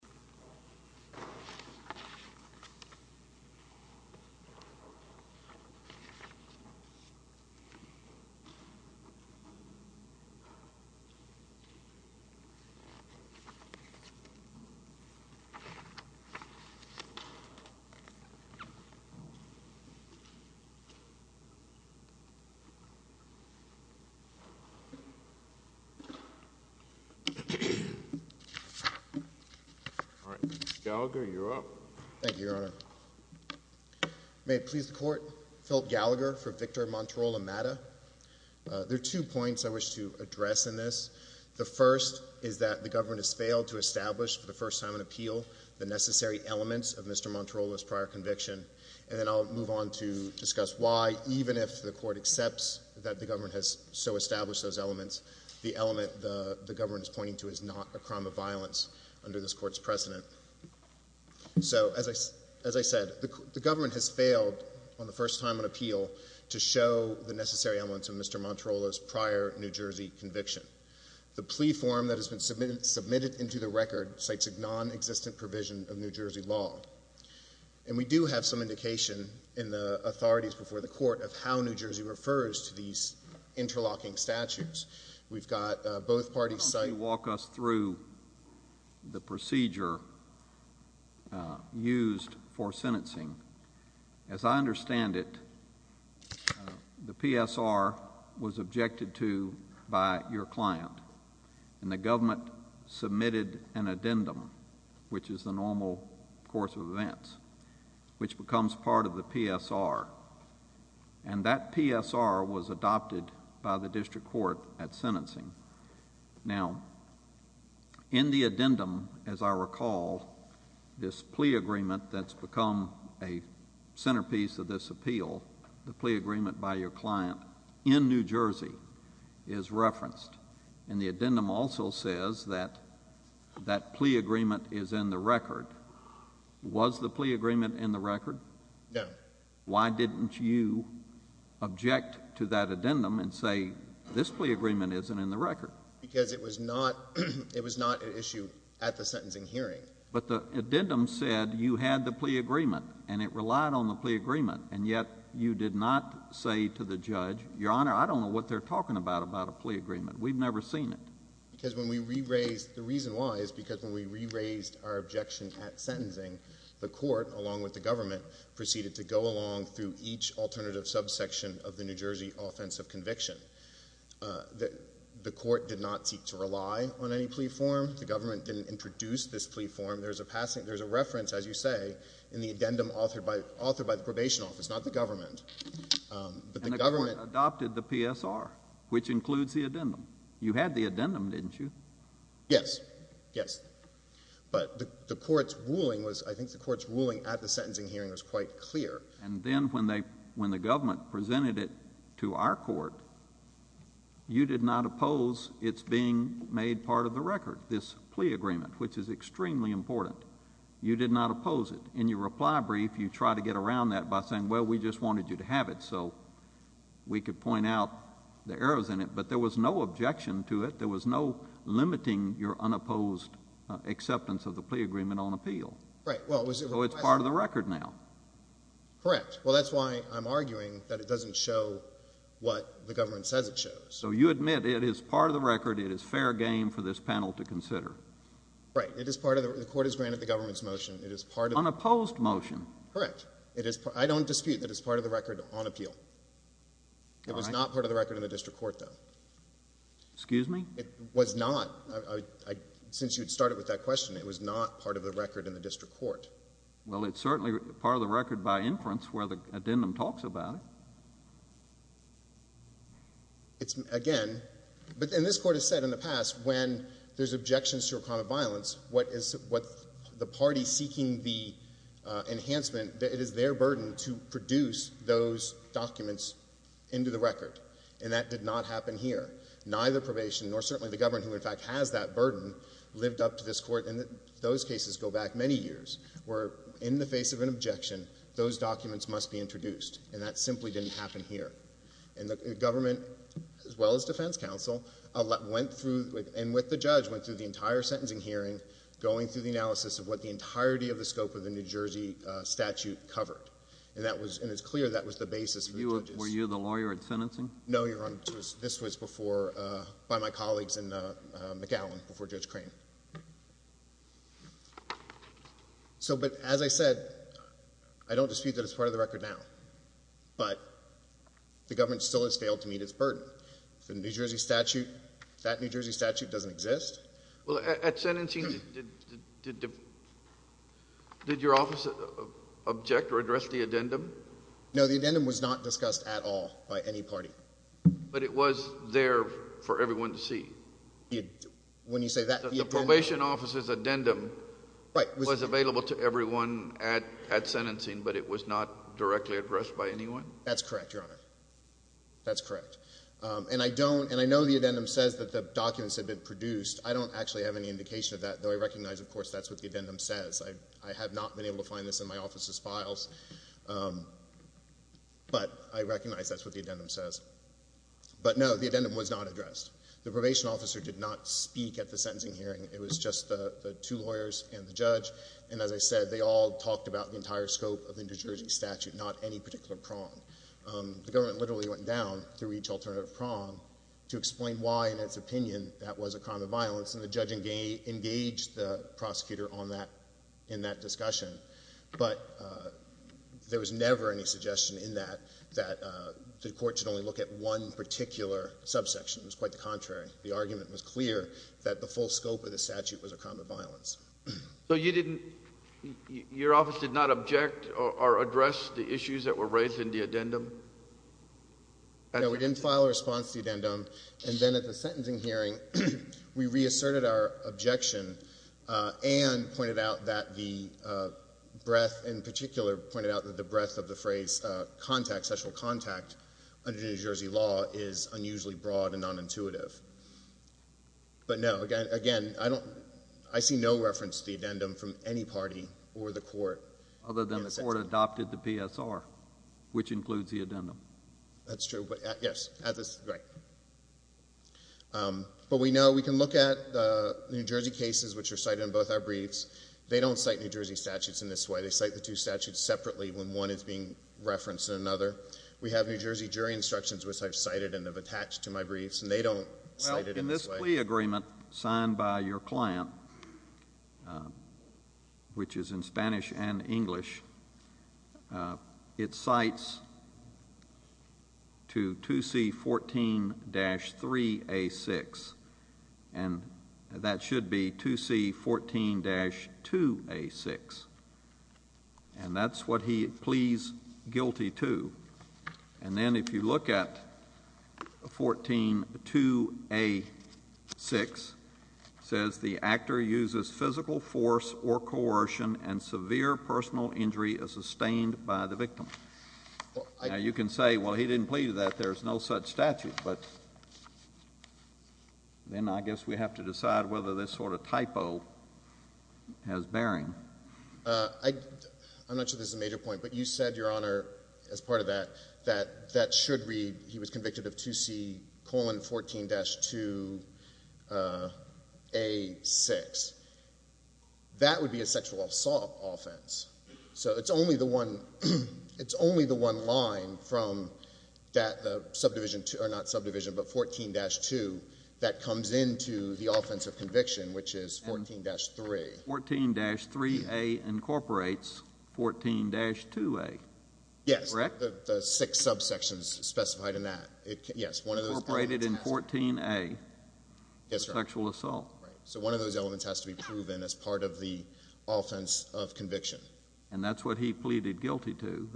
V. Victor Monterola-Mata Mr. Gallagher, you're up. Thank you, Your Honor. May it please the Court, Philip Gallagher for Victor Monterola-Mata. There are two points I wish to address in this. The first is that the government has failed to establish for the first time in appeal the necessary elements of Mr. Monterola's prior conviction. And then I'll move on to discuss why, even if the court accepts that the government has so established those elements, the element the government is pointing to is not a crime of violence under this Court's precedent. So, as I said, the government has failed, for the first time in appeal, to show the necessary elements of Mr. Monterola's prior New Jersey conviction. The plea form that has been submitted into the record cites a nonexistent provision of New Jersey law. And we do have some indication in the authorities before the Court of how New Jersey refers to these interlocking statutes. We've got both parties citing Why don't you walk us through the procedure used for sentencing. As I understand it, the PSR was objected to by your client. And the government submitted an addendum, which is the normal course of events, which becomes part of the PSR. And that PSR was adopted by the district court at sentencing. Now, in the addendum, as I recall, this plea agreement that's become a centerpiece of this appeal, the plea agreement by your client in New Jersey, is referenced. And the addendum also says that that plea agreement is in the record. Was the plea agreement in the record? No. Why didn't you object to that addendum and say this plea agreement isn't in the record? Because it was not an issue at the sentencing hearing. But the addendum said you had the plea agreement, and it relied on the plea agreement. And yet you did not say to the judge, Your Honor, I don't know what they're talking about about a plea agreement. We've never seen it. Because when we re-raised the reason why is because when we re-raised our objection at sentencing, the court, along with the government, proceeded to go along through each alternative subsection of the New Jersey offensive conviction. The court did not seek to rely on any plea form. The government didn't introduce this plea form. There's a reference, as you say, in the addendum authored by the probation office, not the government. And the court adopted the PSR, which includes the addendum. You had the addendum, didn't you? Yes. Yes. But the court's ruling was, I think the court's ruling at the sentencing hearing was quite clear. And then when the government presented it to our court, you did not oppose its being made part of the record, this plea agreement, which is extremely important. You did not oppose it. In your reply brief, you tried to get around that by saying, well, we just wanted you to have it so we could point out the errors in it. But there was no objection to it. There was no limiting your unopposed acceptance of the plea agreement on appeal. Right. So it's part of the record now. Correct. Well, that's why I'm arguing that it doesn't show what the government says it shows. So you admit it is part of the record. It is fair game for this panel to consider. Right. It is part of the record. The court has granted the government's motion. It is part of the record. Unopposed motion. Correct. I don't dispute that it's part of the record on appeal. All right. It was not part of the record in the district court, though. Excuse me? It was not. Since you had started with that question, it was not part of the record in the district court. Well, it's certainly part of the record by inference where the addendum talks about it. It's, again, and this court has said in the past, when there's objections to a crime of violence, what the party seeking the enhancement, it is their burden to produce those documents into the record. And that did not happen here. Neither probation, nor certainly the government, who in fact has that burden, lived up to this court, and those cases go back many years, where in the face of an objection, those documents must be introduced. And that simply didn't happen here. And the government, as well as defense counsel, went through, and with the judge, went through the entire sentencing hearing, going through the analysis of what the entirety of the scope of the New Jersey statute covered. And that was, and it's clear that was the basis for the judges. Were you the lawyer in sentencing? No, Your Honor. This was before, by my colleagues in McAllen, before Judge Crane. So, but as I said, I don't dispute that it's part of the record now, but the government still has failed to meet its burden. The New Jersey statute, that New Jersey statute doesn't exist. Well, at sentencing, did your office object or address the addendum? No, the addendum was not discussed at all by any party. But it was there for everyone to see. When you say that, you mean? The probation officer's addendum was available to everyone at sentencing, but it was not directly addressed by anyone? That's correct, Your Honor. That's correct. And I don't, and I know the addendum says that the documents had been produced. I don't actually have any indication of that, though I recognize, of course, that's what the addendum says. I have not been able to find this in my office's files, but I recognize that's what the addendum says. But, no, the addendum was not addressed. The probation officer did not speak at the sentencing hearing. It was just the two lawyers and the judge. And as I said, they all talked about the entire scope of the New Jersey statute, not any particular prong. The government literally went down through each alternative prong to explain why, in its opinion, that was a crime of violence. And the judge engaged the prosecutor in that discussion. But there was never any suggestion in that that the court should only look at one particular subsection. It was quite the contrary. The argument was clear that the full scope of the statute was a crime of violence. So you didn't, your office did not object or address the issues that were raised in the addendum? No, we didn't file a response to the addendum. And then at the sentencing hearing, we reasserted our objection and pointed out that the breadth, in particular, pointed out that the breadth of the phrase contact, sexual contact, under New Jersey law is unusually broad and nonintuitive. But, no, again, I see no reference to the addendum from any party or the court. Other than the court adopted the PSR, which includes the addendum. That's true. Yes. Right. But we know, we can look at the New Jersey cases, which are cited in both our briefs. They don't cite New Jersey statutes in this way. They cite the two statutes separately when one is being referenced in another. We have New Jersey jury instructions, which I've cited and have attached to my briefs, and they don't cite it in this way. The plea agreement signed by your client, which is in Spanish and English, it cites to 2C14-3A6. And that should be 2C14-2A6. And that's what he pleads guilty to. And then if you look at 14-2A6, it says the actor uses physical force or coercion and severe personal injury as sustained by the victim. Now, you can say, well, he didn't plead that. There's no such statute. But then I guess we have to decide whether this sort of typo has bearing. I'm not sure this is a major point, but you said, Your Honor, as part of that, that that should read he was convicted of 2C14-2A6. That would be a sexual assault offense. So it's only the one line from that subdivision, or not subdivision, but 14-2, that comes into the offense of conviction, which is 14-3. 14-3A incorporates 14-2A. Yes. Correct? The six subsections specified in that. Yes. Incorporated in 14A. Yes, Your Honor. Sexual assault. Right. So one of those elements has to be proven as part of the offense of conviction. And that's what he pleaded guilty to.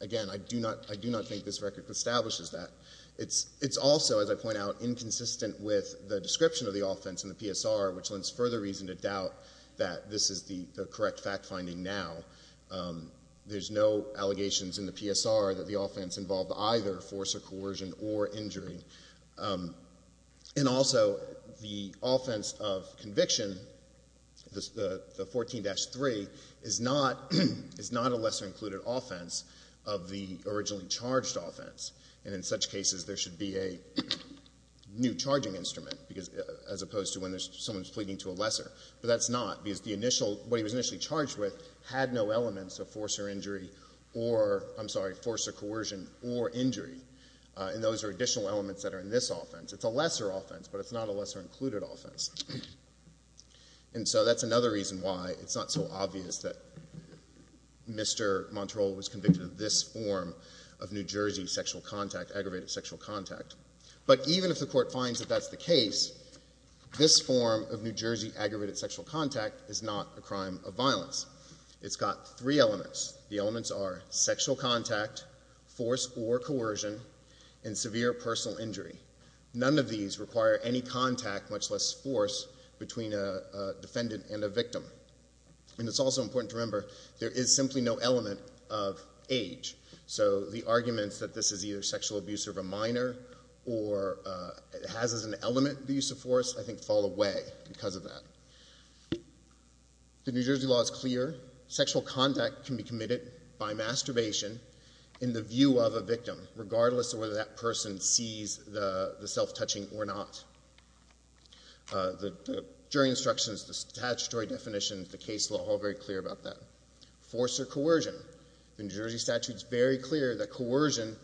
Again, I do not think this record establishes that. It's also, as I point out, inconsistent with the description of the offense in the PSR, which lends further reason to doubt that this is the correct fact finding now. There's no allegations in the PSR that the offense involved either force or coercion or injury. And also, the offense of conviction, the 14-3, is not a lesser included offense of the originally charged offense. And in such cases, there should be a new charging instrument, as opposed to when someone's pleading to a lesser. But that's not, because what he was initially charged with had no elements of force or injury or, I'm sorry, force or coercion or injury. And those are additional elements that are in this offense. It's a lesser offense, but it's not a lesser included offense. And so that's another reason why it's not so obvious that Mr. Montero was convicted of this form of New Jersey sexual contact, aggravated sexual contact. But even if the court finds that that's the case, this form of New Jersey aggravated sexual contact is not a crime of violence. It's got three elements. The elements are sexual contact, force or coercion, and severe personal injury. None of these require any contact, much less force, between a defendant and a victim. And it's also important to remember there is simply no element of age. So the arguments that this is either sexual abuse of a minor or it has as an element the use of force, I think, fall away because of that. The New Jersey law is clear. Sexual contact can be committed by masturbation in the view of a victim, regardless of whether that person sees the self-touching or not. The jury instructions, the statutory definitions, the case law are all very clear about that. Force or coercion. The New Jersey statute is very clear that coercion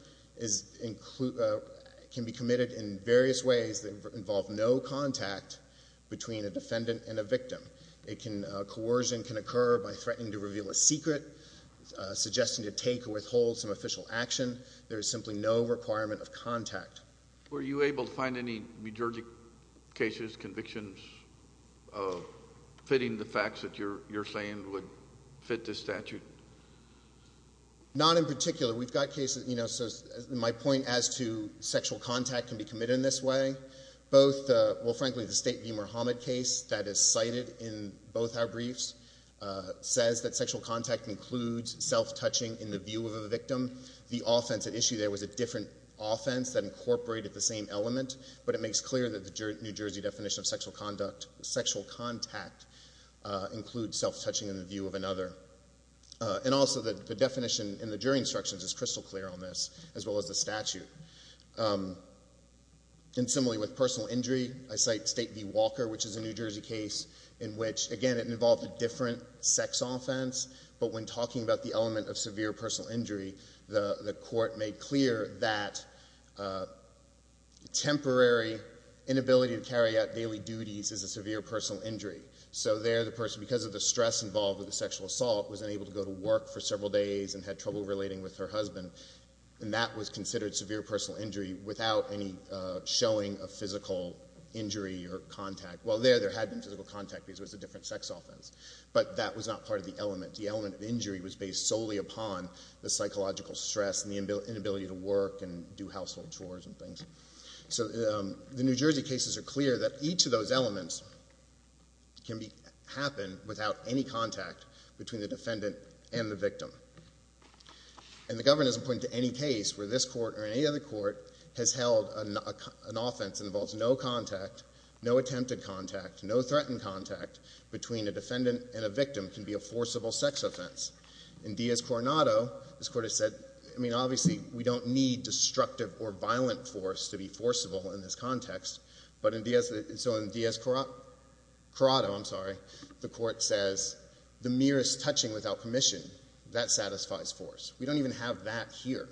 can be committed in various ways that involve no contact between a defendant and a victim. Coercion can occur by threatening to reveal a secret, suggesting to take or withhold some official action. There is simply no requirement of contact. Were you able to find any New Jersey cases, convictions, fitting the facts that you're saying would fit this statute? Not in particular. We've got cases, you know, so my point as to sexual contact can be committed in this way. Both, well, frankly, the State v. Muhammad case that is cited in both our briefs says that sexual contact includes self-touching in the view of a victim. The offense at issue there was a different offense that incorporated the same element, but it makes clear that the New Jersey definition of sexual contact includes self-touching in the view of another. And also the definition in the jury instructions is crystal clear on this, as well as the statute. And similarly with personal injury, I cite State v. Walker, which is a New Jersey case in which, again, it involved a different sex offense, but when talking about the element of severe personal injury, the Court made clear that temporary inability to carry out daily duties is a severe personal injury. So there the person, because of the stress involved with the sexual assault, was unable to go to work for several days and had trouble relating with her husband, and that was considered severe personal injury without any showing of physical injury or contact. Well, there, there had been physical contact because it was a different sex offense, but that was not part of the element. The element of injury was based solely upon the psychological stress and the inability to work and do household chores and things. So the New Jersey cases are clear that each of those elements can happen without any contact between the defendant and the victim. And the Governor doesn't point to any case where this Court or any other Court has held an offense that involves no contact, no attempted contact, no threatened contact between a defendant and a victim can be a forcible sex offense. In Diaz-Coronado, this Court has said, I mean, obviously we don't need destructive or violent force to be forcible in this context, but in Diaz-Coronado, I'm sorry, the Court says the merest touching without permission, that satisfies force. We don't even have that here.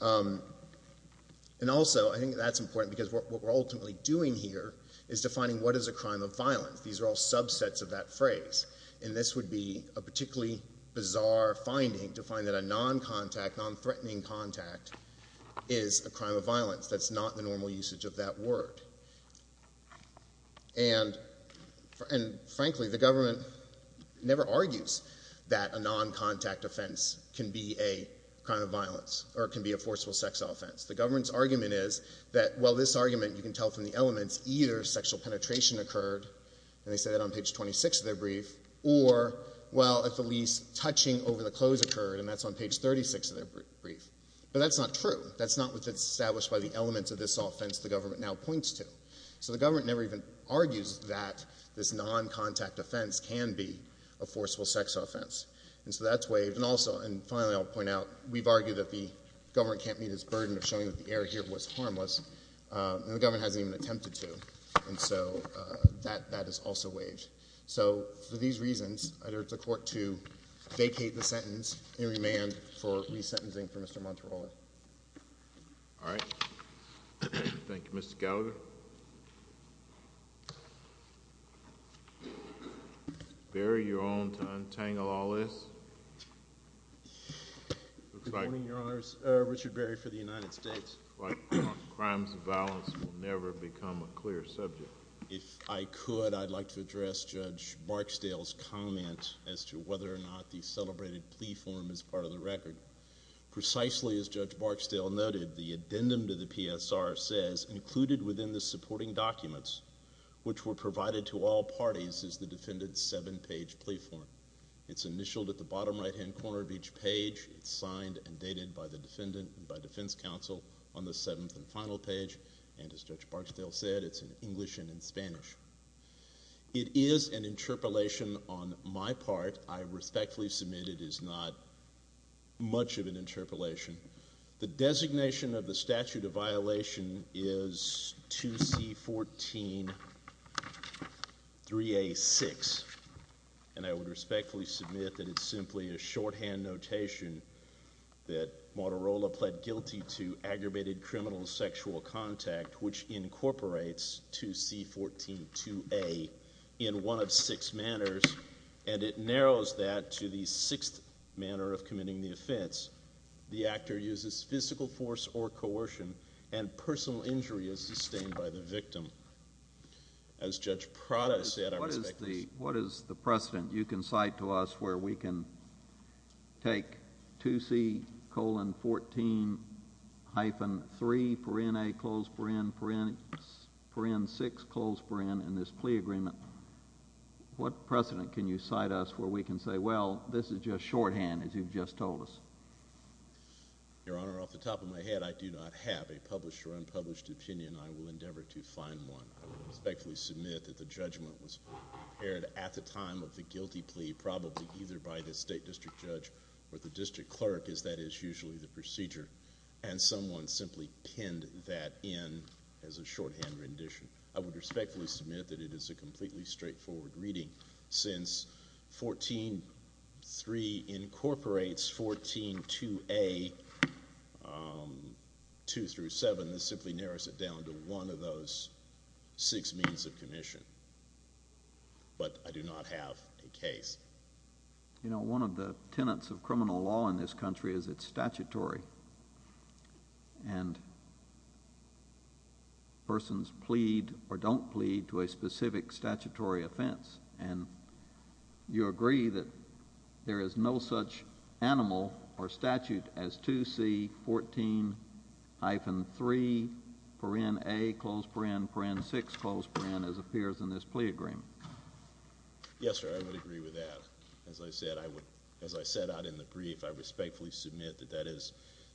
And also, I think that's important because what we're ultimately doing here is defining what is a crime of violence. These are all subsets of that phrase, and this would be a particularly bizarre finding to find that a non-contact, non-threatening contact, is a crime of violence. That's not the normal usage of that word. And frankly, the Government never argues that a non-contact offense can be a crime of violence or can be a forcible sex offense. The Government's argument is that, well, this argument, you can tell from the elements, either sexual penetration occurred, and they say that on page 26 of their brief, or, well, at the least, touching over the clothes occurred, and that's on page 36 of their brief. But that's not true. That's not what's established by the elements of this offense the Government now points to. So the Government never even argues that this non-contact offense can be a forcible sex offense. And so that's waived. And also, and finally I'll point out, we've argued that the Government can't meet its burden of showing that the error here was harmless, and the Government hasn't even attempted to. And so that is also waived. So for these reasons, I urge the Court to vacate the sentence and remand for resentencing for Mr. Monterola. All right. Thank you, Mr. Gallagher. Barry, you're on to untangle all this. Good morning, Your Honors. Richard Barry for the United States. It looks like crimes of violence will never become a clear subject. If I could, I'd like to address Judge Barksdale's comment as to whether or not the celebrated plea form is part of the record. Precisely as Judge Barksdale noted, the addendum to the PSR says, included within the supporting documents, which were provided to all parties, is the defendant's seven-page plea form. It's initialed at the bottom right-hand corner of each page. It's signed and dated by the defendant and by defense counsel on the seventh and final page. And as Judge Barksdale said, it's in English and in Spanish. It is an interpolation on my part. I respectfully submit it is not much of an interpolation. The designation of the statute of violation is 2C14-3A6. And I would respectfully submit that it's simply a shorthand notation that Motorola pled guilty to aggravated criminal sexual contact, which incorporates 2C14-2A in one of six manners. And it narrows that to the sixth manner of committing the offense. The actor uses physical force or coercion, and personal injury is sustained by the victim. As Judge Prada said, I respectfully submit it is not much of an interpolation. What is the precedent you can cite to us where we can take 2C14-3A6 and this plea agreement? What precedent can you cite us where we can say, well, this is just shorthand, as you've just told us? Your Honor, off the top of my head, I do not have a published or unpublished opinion. I will endeavor to find one. I respectfully submit that the judgment was prepared at the time of the guilty plea, probably either by the state district judge or the district clerk, as that is usually the procedure. And someone simply pinned that in as a shorthand rendition. I would respectfully submit that it is a completely straightforward reading. Since 14-3 incorporates 14-2A, 2 through 7, this simply narrows it down to one of those six means of commission. But I do not have a case. You know, one of the tenets of criminal law in this country is it's statutory. And persons plead or don't plead to a specific statutory offense. And you agree that there is no such animal or statute as 2C14-3-A-6 as appears in this plea agreement. Yes, sir, I would agree with that. As I said out in the brief, I respectfully submit that that is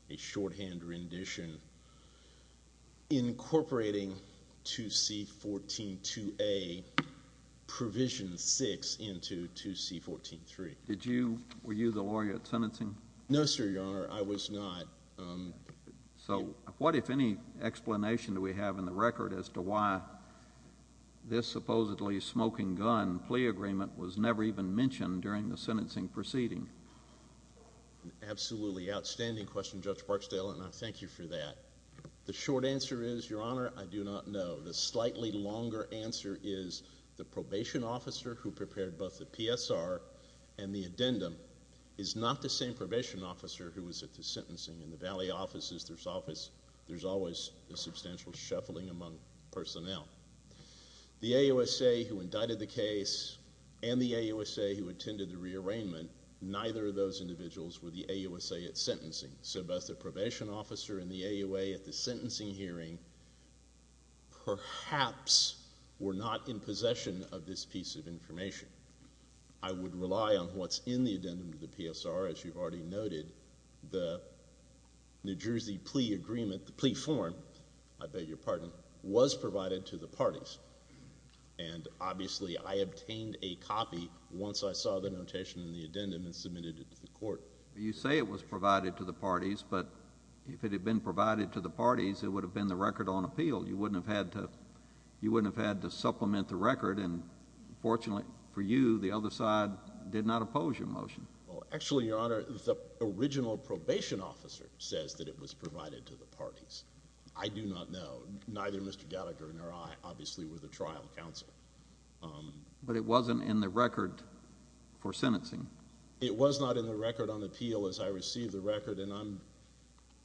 a shorthand rendition incorporating 2C14-2A provision 6 into 2C14-3. Were you the lawyer at sentencing? No, sir, Your Honor, I was not. So what, if any, explanation do we have in the record as to why this supposedly smoking gun plea agreement was never even mentioned during the sentencing proceeding? Absolutely outstanding question, Judge Barksdale, and I thank you for that. The short answer is, Your Honor, I do not know. The slightly longer answer is the probation officer who prepared both the PSR and the addendum is not the same probation officer who was at the sentencing. In the valley offices, there's always a substantial shuffling among personnel. The AUSA who indicted the case and the AUSA who attended the rearrangement, neither of those individuals were the AUSA at sentencing. So both the probation officer and the AUSA at the sentencing hearing perhaps were not in possession of this piece of information. I would rely on what's in the addendum to the PSR. As you've already noted, the New Jersey plea agreement, the plea form, I beg your pardon, was provided to the parties. And obviously, I obtained a copy once I saw the notation in the addendum and submitted it to the court. You say it was provided to the parties, but if it had been provided to the parties, it would have been the record on appeal. You wouldn't have had to supplement the record, and fortunately for you, the other side did not oppose your motion. Actually, Your Honor, the original probation officer says that it was provided to the parties. I do not know. Neither Mr. Gallagher nor I obviously were the trial counsel. But it wasn't in the record for sentencing? It was not in the record on appeal as I received the record, and I'm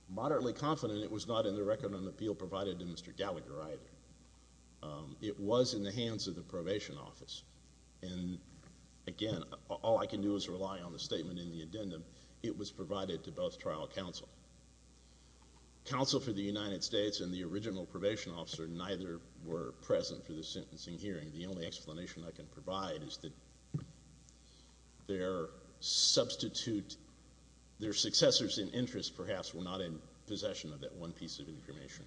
moderately confident it was not in the record on appeal provided to Mr. Gallagher either. It was in the hands of the probation office, and again, all I can do is rely on the statement in the addendum. It was provided to both trial counsel. Counsel for the United States and the original probation officer neither were present for the sentencing hearing. The only explanation I can provide is that their successors in interest perhaps were not in possession of that one piece of information.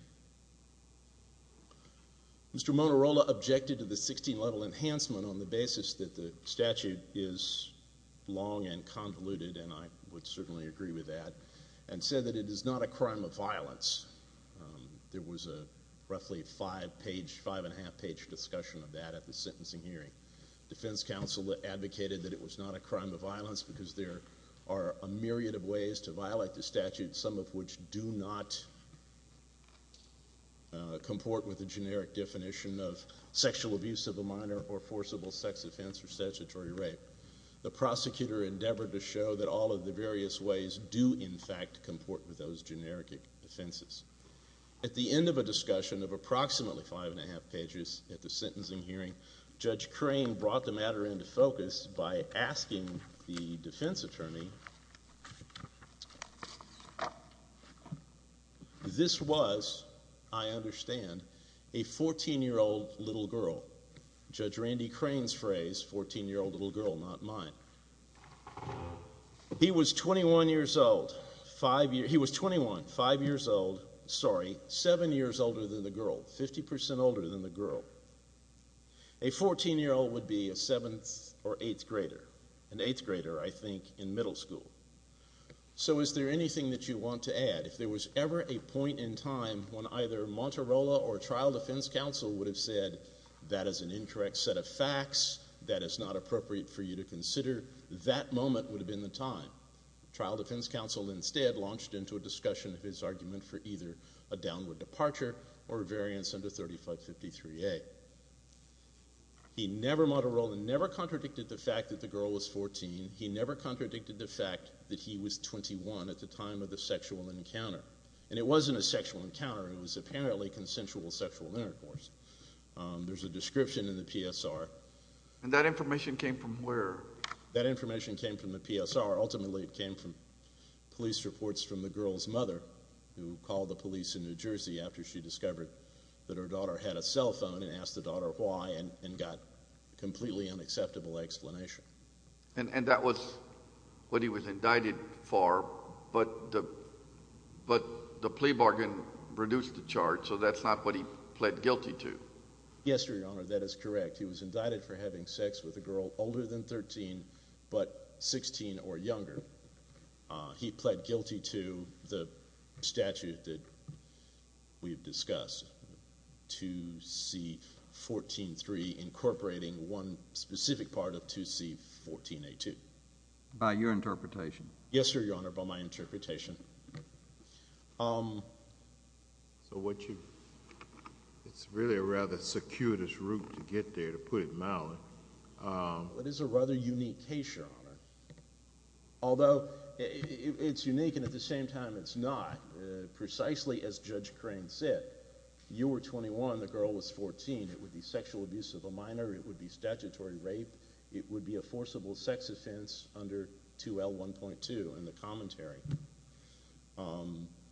Mr. Monarola objected to the 16-level enhancement on the basis that the statute is long and convoluted, and I would certainly agree with that, and said that it is not a crime of violence. There was a roughly five-and-a-half-page discussion of that at the sentencing hearing. Defense counsel advocated that it was not a crime of violence because there are a myriad of ways to violate the statute, some of which do not comport with the generic definition of sexual abuse of a minor or forcible sex offense or statutory rape. The prosecutor endeavored to show that all of the various ways do, in fact, comport with those generic offenses. At the end of a discussion of approximately five-and-a-half pages at the sentencing hearing, Judge Crane brought the matter into focus by asking the defense attorney, this was, I understand, a 14-year-old little girl. Judge Randy Crane's phrase, 14-year-old little girl, not mine. He was 21 years old. He was 21, five years old, sorry, seven years older than the girl, 50 percent older than the girl. A 14-year-old would be a seventh or eighth grader, an eighth grader, I think, in middle school. So is there anything that you want to add? If there was ever a point in time when either Monterola or trial defense counsel would have said, that is an incorrect set of facts, that is not appropriate for you to consider, that moment would have been the time. Trial defense counsel instead launched into a discussion of his argument for either a downward departure or a variance under 3553A. He never, Monterola, never contradicted the fact that the girl was 14. He never contradicted the fact that he was 21 at the time of the sexual encounter. And it wasn't a sexual encounter. It was apparently consensual sexual intercourse. There's a description in the PSR. And that information came from where? That information came from the PSR. Ultimately, it came from police reports from the girl's mother, who called the police in New Jersey after she discovered that her daughter had a cell phone and asked the daughter why and got a completely unacceptable explanation. And that was what he was indicted for, but the plea bargain reduced the charge, so that's not what he pled guilty to. Yes, Your Honor, that is correct. He was indicted for having sex with a girl older than 13 but 16 or younger. He pled guilty to the statute that we have discussed, 2C.14.3, incorporating one specific part of 2C.14.A.2. By your interpretation? Yes, Your Honor, by my interpretation. So it's really a rather circuitous route to get there, to put it mildly. It is a rather unique case, Your Honor, although it's unique and at the same time it's not. Precisely as Judge Crane said, you were 21, the girl was 14. It would be sexual abuse of a minor. It would be statutory rape. It would be a forcible sex offense under 2L.1.2 in the commentary.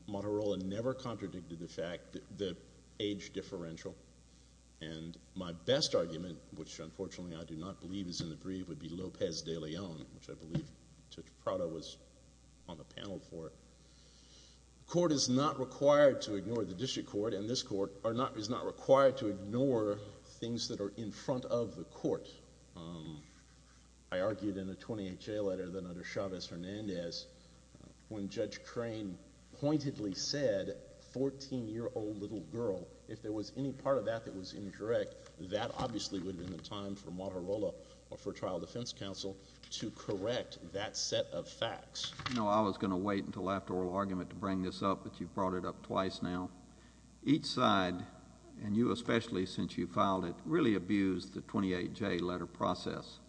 Motorola never contradicted the fact, the age differential. And my best argument, which unfortunately I do not believe is in the brief, would be López de León, which I believe Judge Prado was on the panel for. The court is not required to ignore the district court, and this court is not required to ignore things that are in front of the court. I argued in the 28J letter that under Chávez-Hernández, when Judge Crane pointedly said, 14-year-old little girl, if there was any part of that that was indirect, that obviously would have been the time for Motorola or for trial defense counsel to correct that set of facts. You know, I was going to wait until after oral argument to bring this up, but you've brought it up twice now. Each side, and you especially since you filed it, really abused the 28J letter process.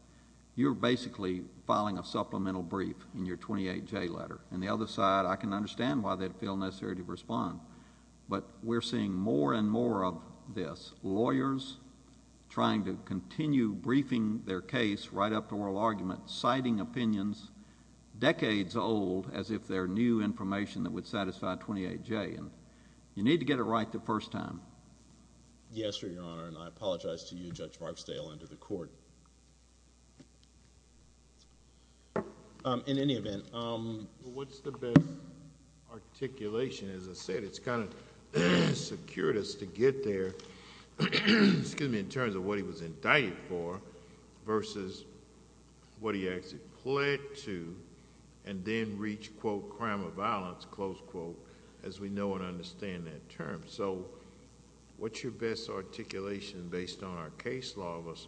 You're basically filing a supplemental brief in your 28J letter. And the other side, I can understand why they feel necessary to respond, but we're seeing more and more of this. Lawyers trying to continue briefing their case right up to oral argument, citing opinions decades old as if they're new information that would satisfy 28J. You need to get it right the first time. Yes, Your Honor, and I apologize to you, Judge Marksdale, and to the court. In any event, what's the best articulation? As I said, it's kind of secured us to get there in terms of what he was indicted for versus what he actually pled to, and then reach, quote, crime of violence, close quote, as we know and understand that term. So, what's your best articulation based on our case law of us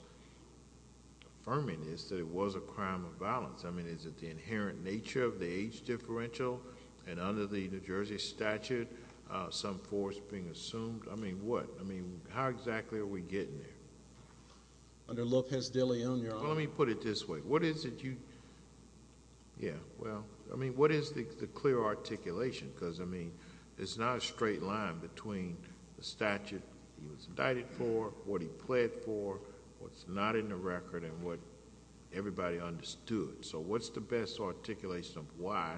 affirming this, that it was a crime of violence? I mean, is it the inherent nature of the age differential? And under the New Jersey statute, some force being assumed? I mean, what? I mean, how exactly are we getting there? Under Lopez de Leon, Your Honor. Let me put it this way. What is it you, yeah, well, I mean, what is the clear articulation? Because, I mean, there's not a straight line between the statute he was indicted for, what he pled for, what's not in the record, and what everybody understood. So, what's the best articulation of why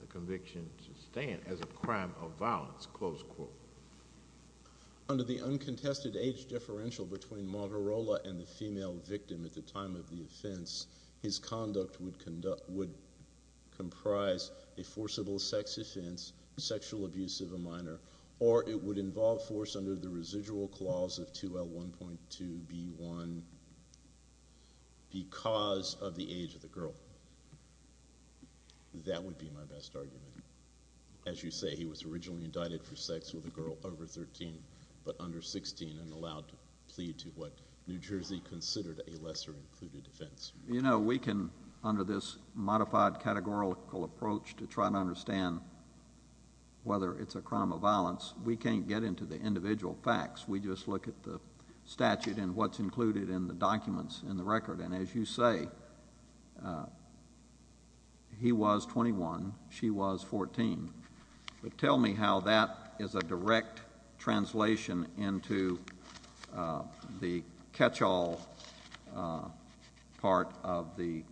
the conviction should stand as a crime of violence, close quote? Under the uncontested age differential between Margarola and the female victim at the time of the offense, his conduct would comprise a forcible sex offense, sexual abuse of a minor, or it would involve force under the residual clause of 2L1.2B1 because of the age of the girl. That would be my best argument. As you say, he was originally indicted for sex with a girl over 13 but under 16 and allowed to plead to what New Jersey considered a lesser included offense. You know, we can, under this modified categorical approach to try to understand whether it's a crime of violence, we can't get into the individual facts. We just look at the statute and what's included in the documents in the record. And as you say, he was 21, she was 14. But tell me how that is a direct translation into the catch-all part of the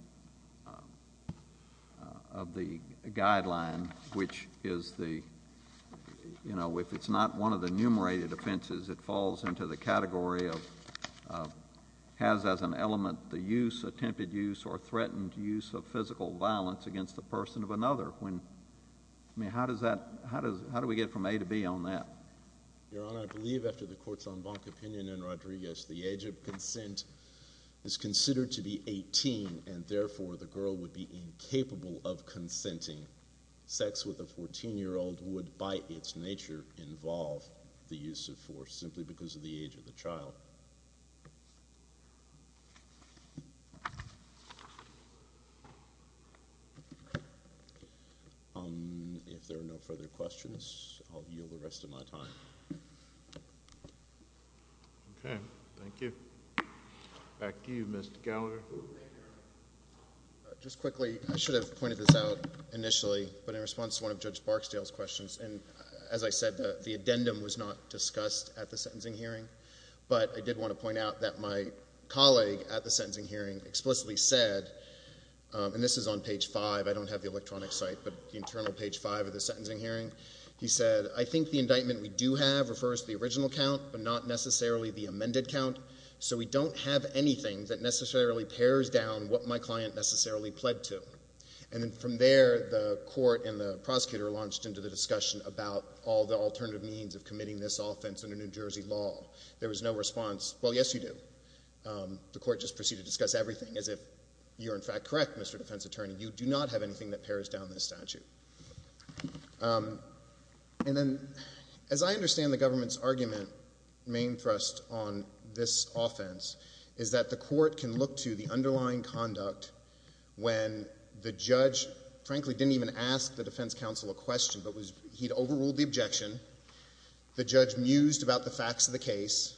guideline, which is the, you know, if it's not one of the enumerated offenses, it falls into the category of has as an element the use, attempted use, or threatened use of physical violence against the person of another. I mean, how does that, how do we get from A to B on that? Your Honor, I believe after the courts on Bonk opinion and Rodriguez, the age of consent is considered to be 18 and therefore the girl would be incapable of consenting. Sex with a 14-year-old would by its nature involve the use of force simply because of the age of the child. If there are no further questions, I'll yield the rest of my time. Okay, thank you. Back to you, Mr. Gallagher. Just quickly, I should have pointed this out initially, but in response to one of Judge Barksdale's questions, and as I said the addendum was not discussed at the sentencing hearing, but I did want to point out that my colleague at the sentencing hearing explicitly said, and this is on page 5, I don't have the electronic site, but the internal page 5 of the sentencing hearing, he said, I think the indictment we do have refers to the original count but not necessarily the amended count, so we don't have anything that necessarily pairs down what my client necessarily pled to. And then from there, the court and the prosecutor launched into the discussion about all the alternative means of committing this offense under New Jersey law. There was no response, well, yes, you do. The court just proceeded to discuss everything as if you're in fact correct, Mr. Defense Attorney, you do not have anything that pairs down this statute. And then as I understand the government's argument, main thrust on this offense, is that the court can look to the underlying conduct when the judge frankly didn't even ask the defense counsel a question, but he'd overruled the objection, the judge mused about the facts of the case,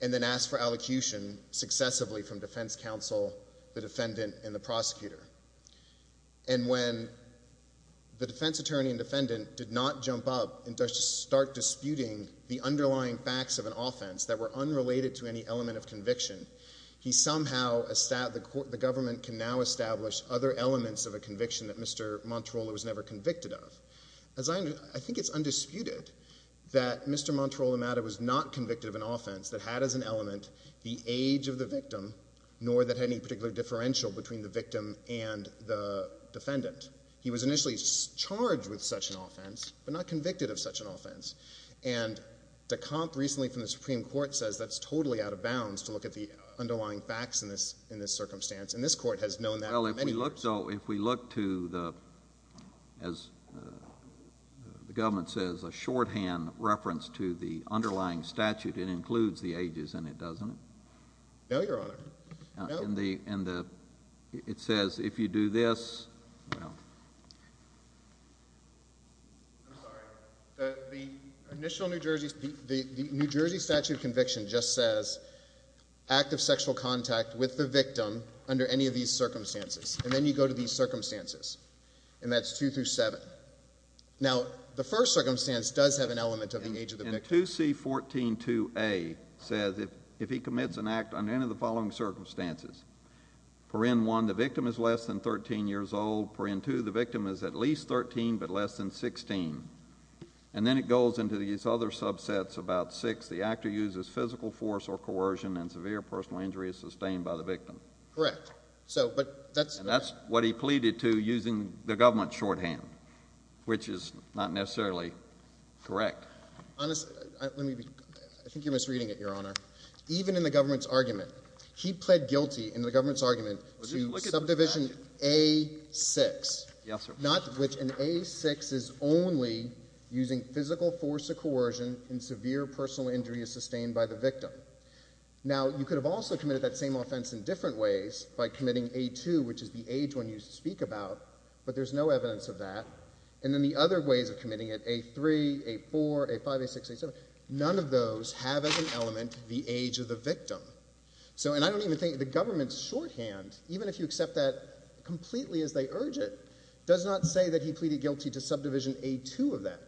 and then asked for allocution successively from defense counsel, the defendant, and the prosecutor. And when the defense attorney and defendant did not jump up and start disputing the underlying facts of an offense that were unrelated to any element of conviction, the government can now establish other elements of a conviction that Mr. Montrola was never convicted of. I think it's undisputed that Mr. Montrola matter was not convicted of an offense that had as an element the age of the victim, nor that had any particular differential between the victim and the defendant. He was initially charged with such an offense, but not convicted of such an offense. And Decomp recently from the Supreme Court says that's totally out of bounds to look at the underlying facts in this circumstance, and this court has known that for many years. Well, if we look to the, as the government says, a shorthand reference to the underlying statute, it includes the ages in it, doesn't it? No, Your Honor. And the, it says if you do this, well. I'm sorry. The initial New Jersey, the New Jersey statute of conviction just says act of sexual contact with the victim under any of these circumstances, and then you go to these circumstances, and that's two through seven. Now, the first circumstance does have an element of the age of the victim. And 2C.14.2a says if he commits an act under any of the following circumstances, per in one the victim is less than 13 years old, per in two the victim is at least 13 but less than 16, and then it goes into these other subsets about six, the actor uses physical force or coercion, and severe personal injury is sustained by the victim. Correct. So, but that's. And that's what he pleaded to using the government shorthand, which is not necessarily correct. Honest, let me be, I think you're misreading it, Your Honor. Even in the government's argument, he pled guilty in the government's argument to subdivision A6. Yes, sir. Not which an A6 is only using physical force or coercion and severe personal injury is sustained by the victim. Now, you could have also committed that same offense in different ways by committing A2, which is the age when you speak about, but there's no evidence of that. And then the other ways of committing it, A3, A4, A5, A6, A7, none of those have as an element the age of the victim. So, and I don't even think the government's shorthand, even if you accept that completely as they urge it, does not say that he pleaded guilty to subdivision A2 of that.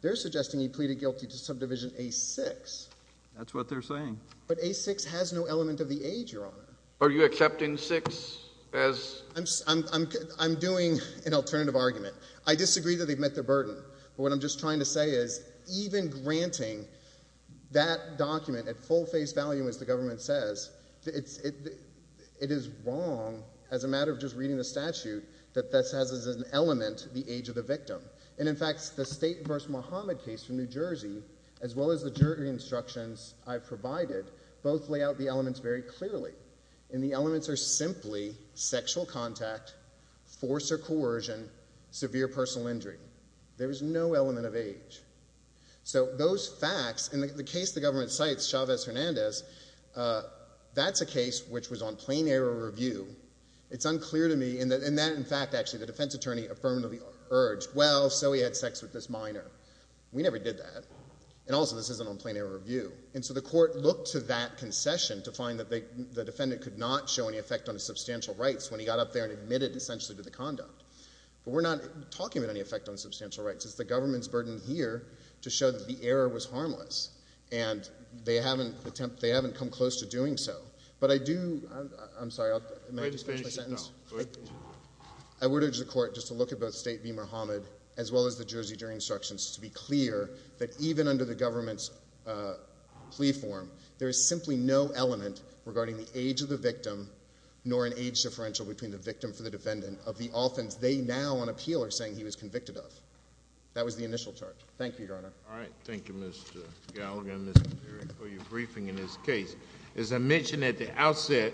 They're suggesting he pleaded guilty to subdivision A6. That's what they're saying. But A6 has no element of the age, Your Honor. Are you accepting 6 as? I'm doing an alternative argument. I disagree that they've met their burden, but what I'm just trying to say is even granting that document at full face value, as the government says, it is wrong, as a matter of just reading the statute, that this has as an element the age of the victim. And, in fact, the State v. Muhammad case from New Jersey, as well as the jury instructions I've provided, both lay out the elements very clearly. And the elements are simply sexual contact, force or coercion, severe personal injury. There is no element of age. So those facts, and the case the government cites, Chavez-Hernandez, that's a case which was on plain error review. It's unclear to me, and that, in fact, actually the defense attorney affirmatively urged, well, so he had sex with this minor. We never did that. And also, this isn't on plain error review. And so the court looked to that concession to find that the defendant could not show any effect on his substantial rights when he got up there and admitted, essentially, to the conduct. But we're not talking about any effect on substantial rights. It's the government's burden here to show that the error was harmless, and they haven't come close to doing so. But I do – I'm sorry, may I just finish my sentence? Go ahead. I would urge the court just to look at both State v. Muhammad, as well as the Jersey jury instructions, to be clear that even under the government's plea form, there is simply no element regarding the age of the victim nor an age differential between the victim and the defendant of the offense they now on appeal are saying he was convicted of. That was the initial charge. Thank you, Your Honor. All right. Thank you, Mr. Gallagher and Mr. Perry, for your briefing in this case. As I mentioned at the outset,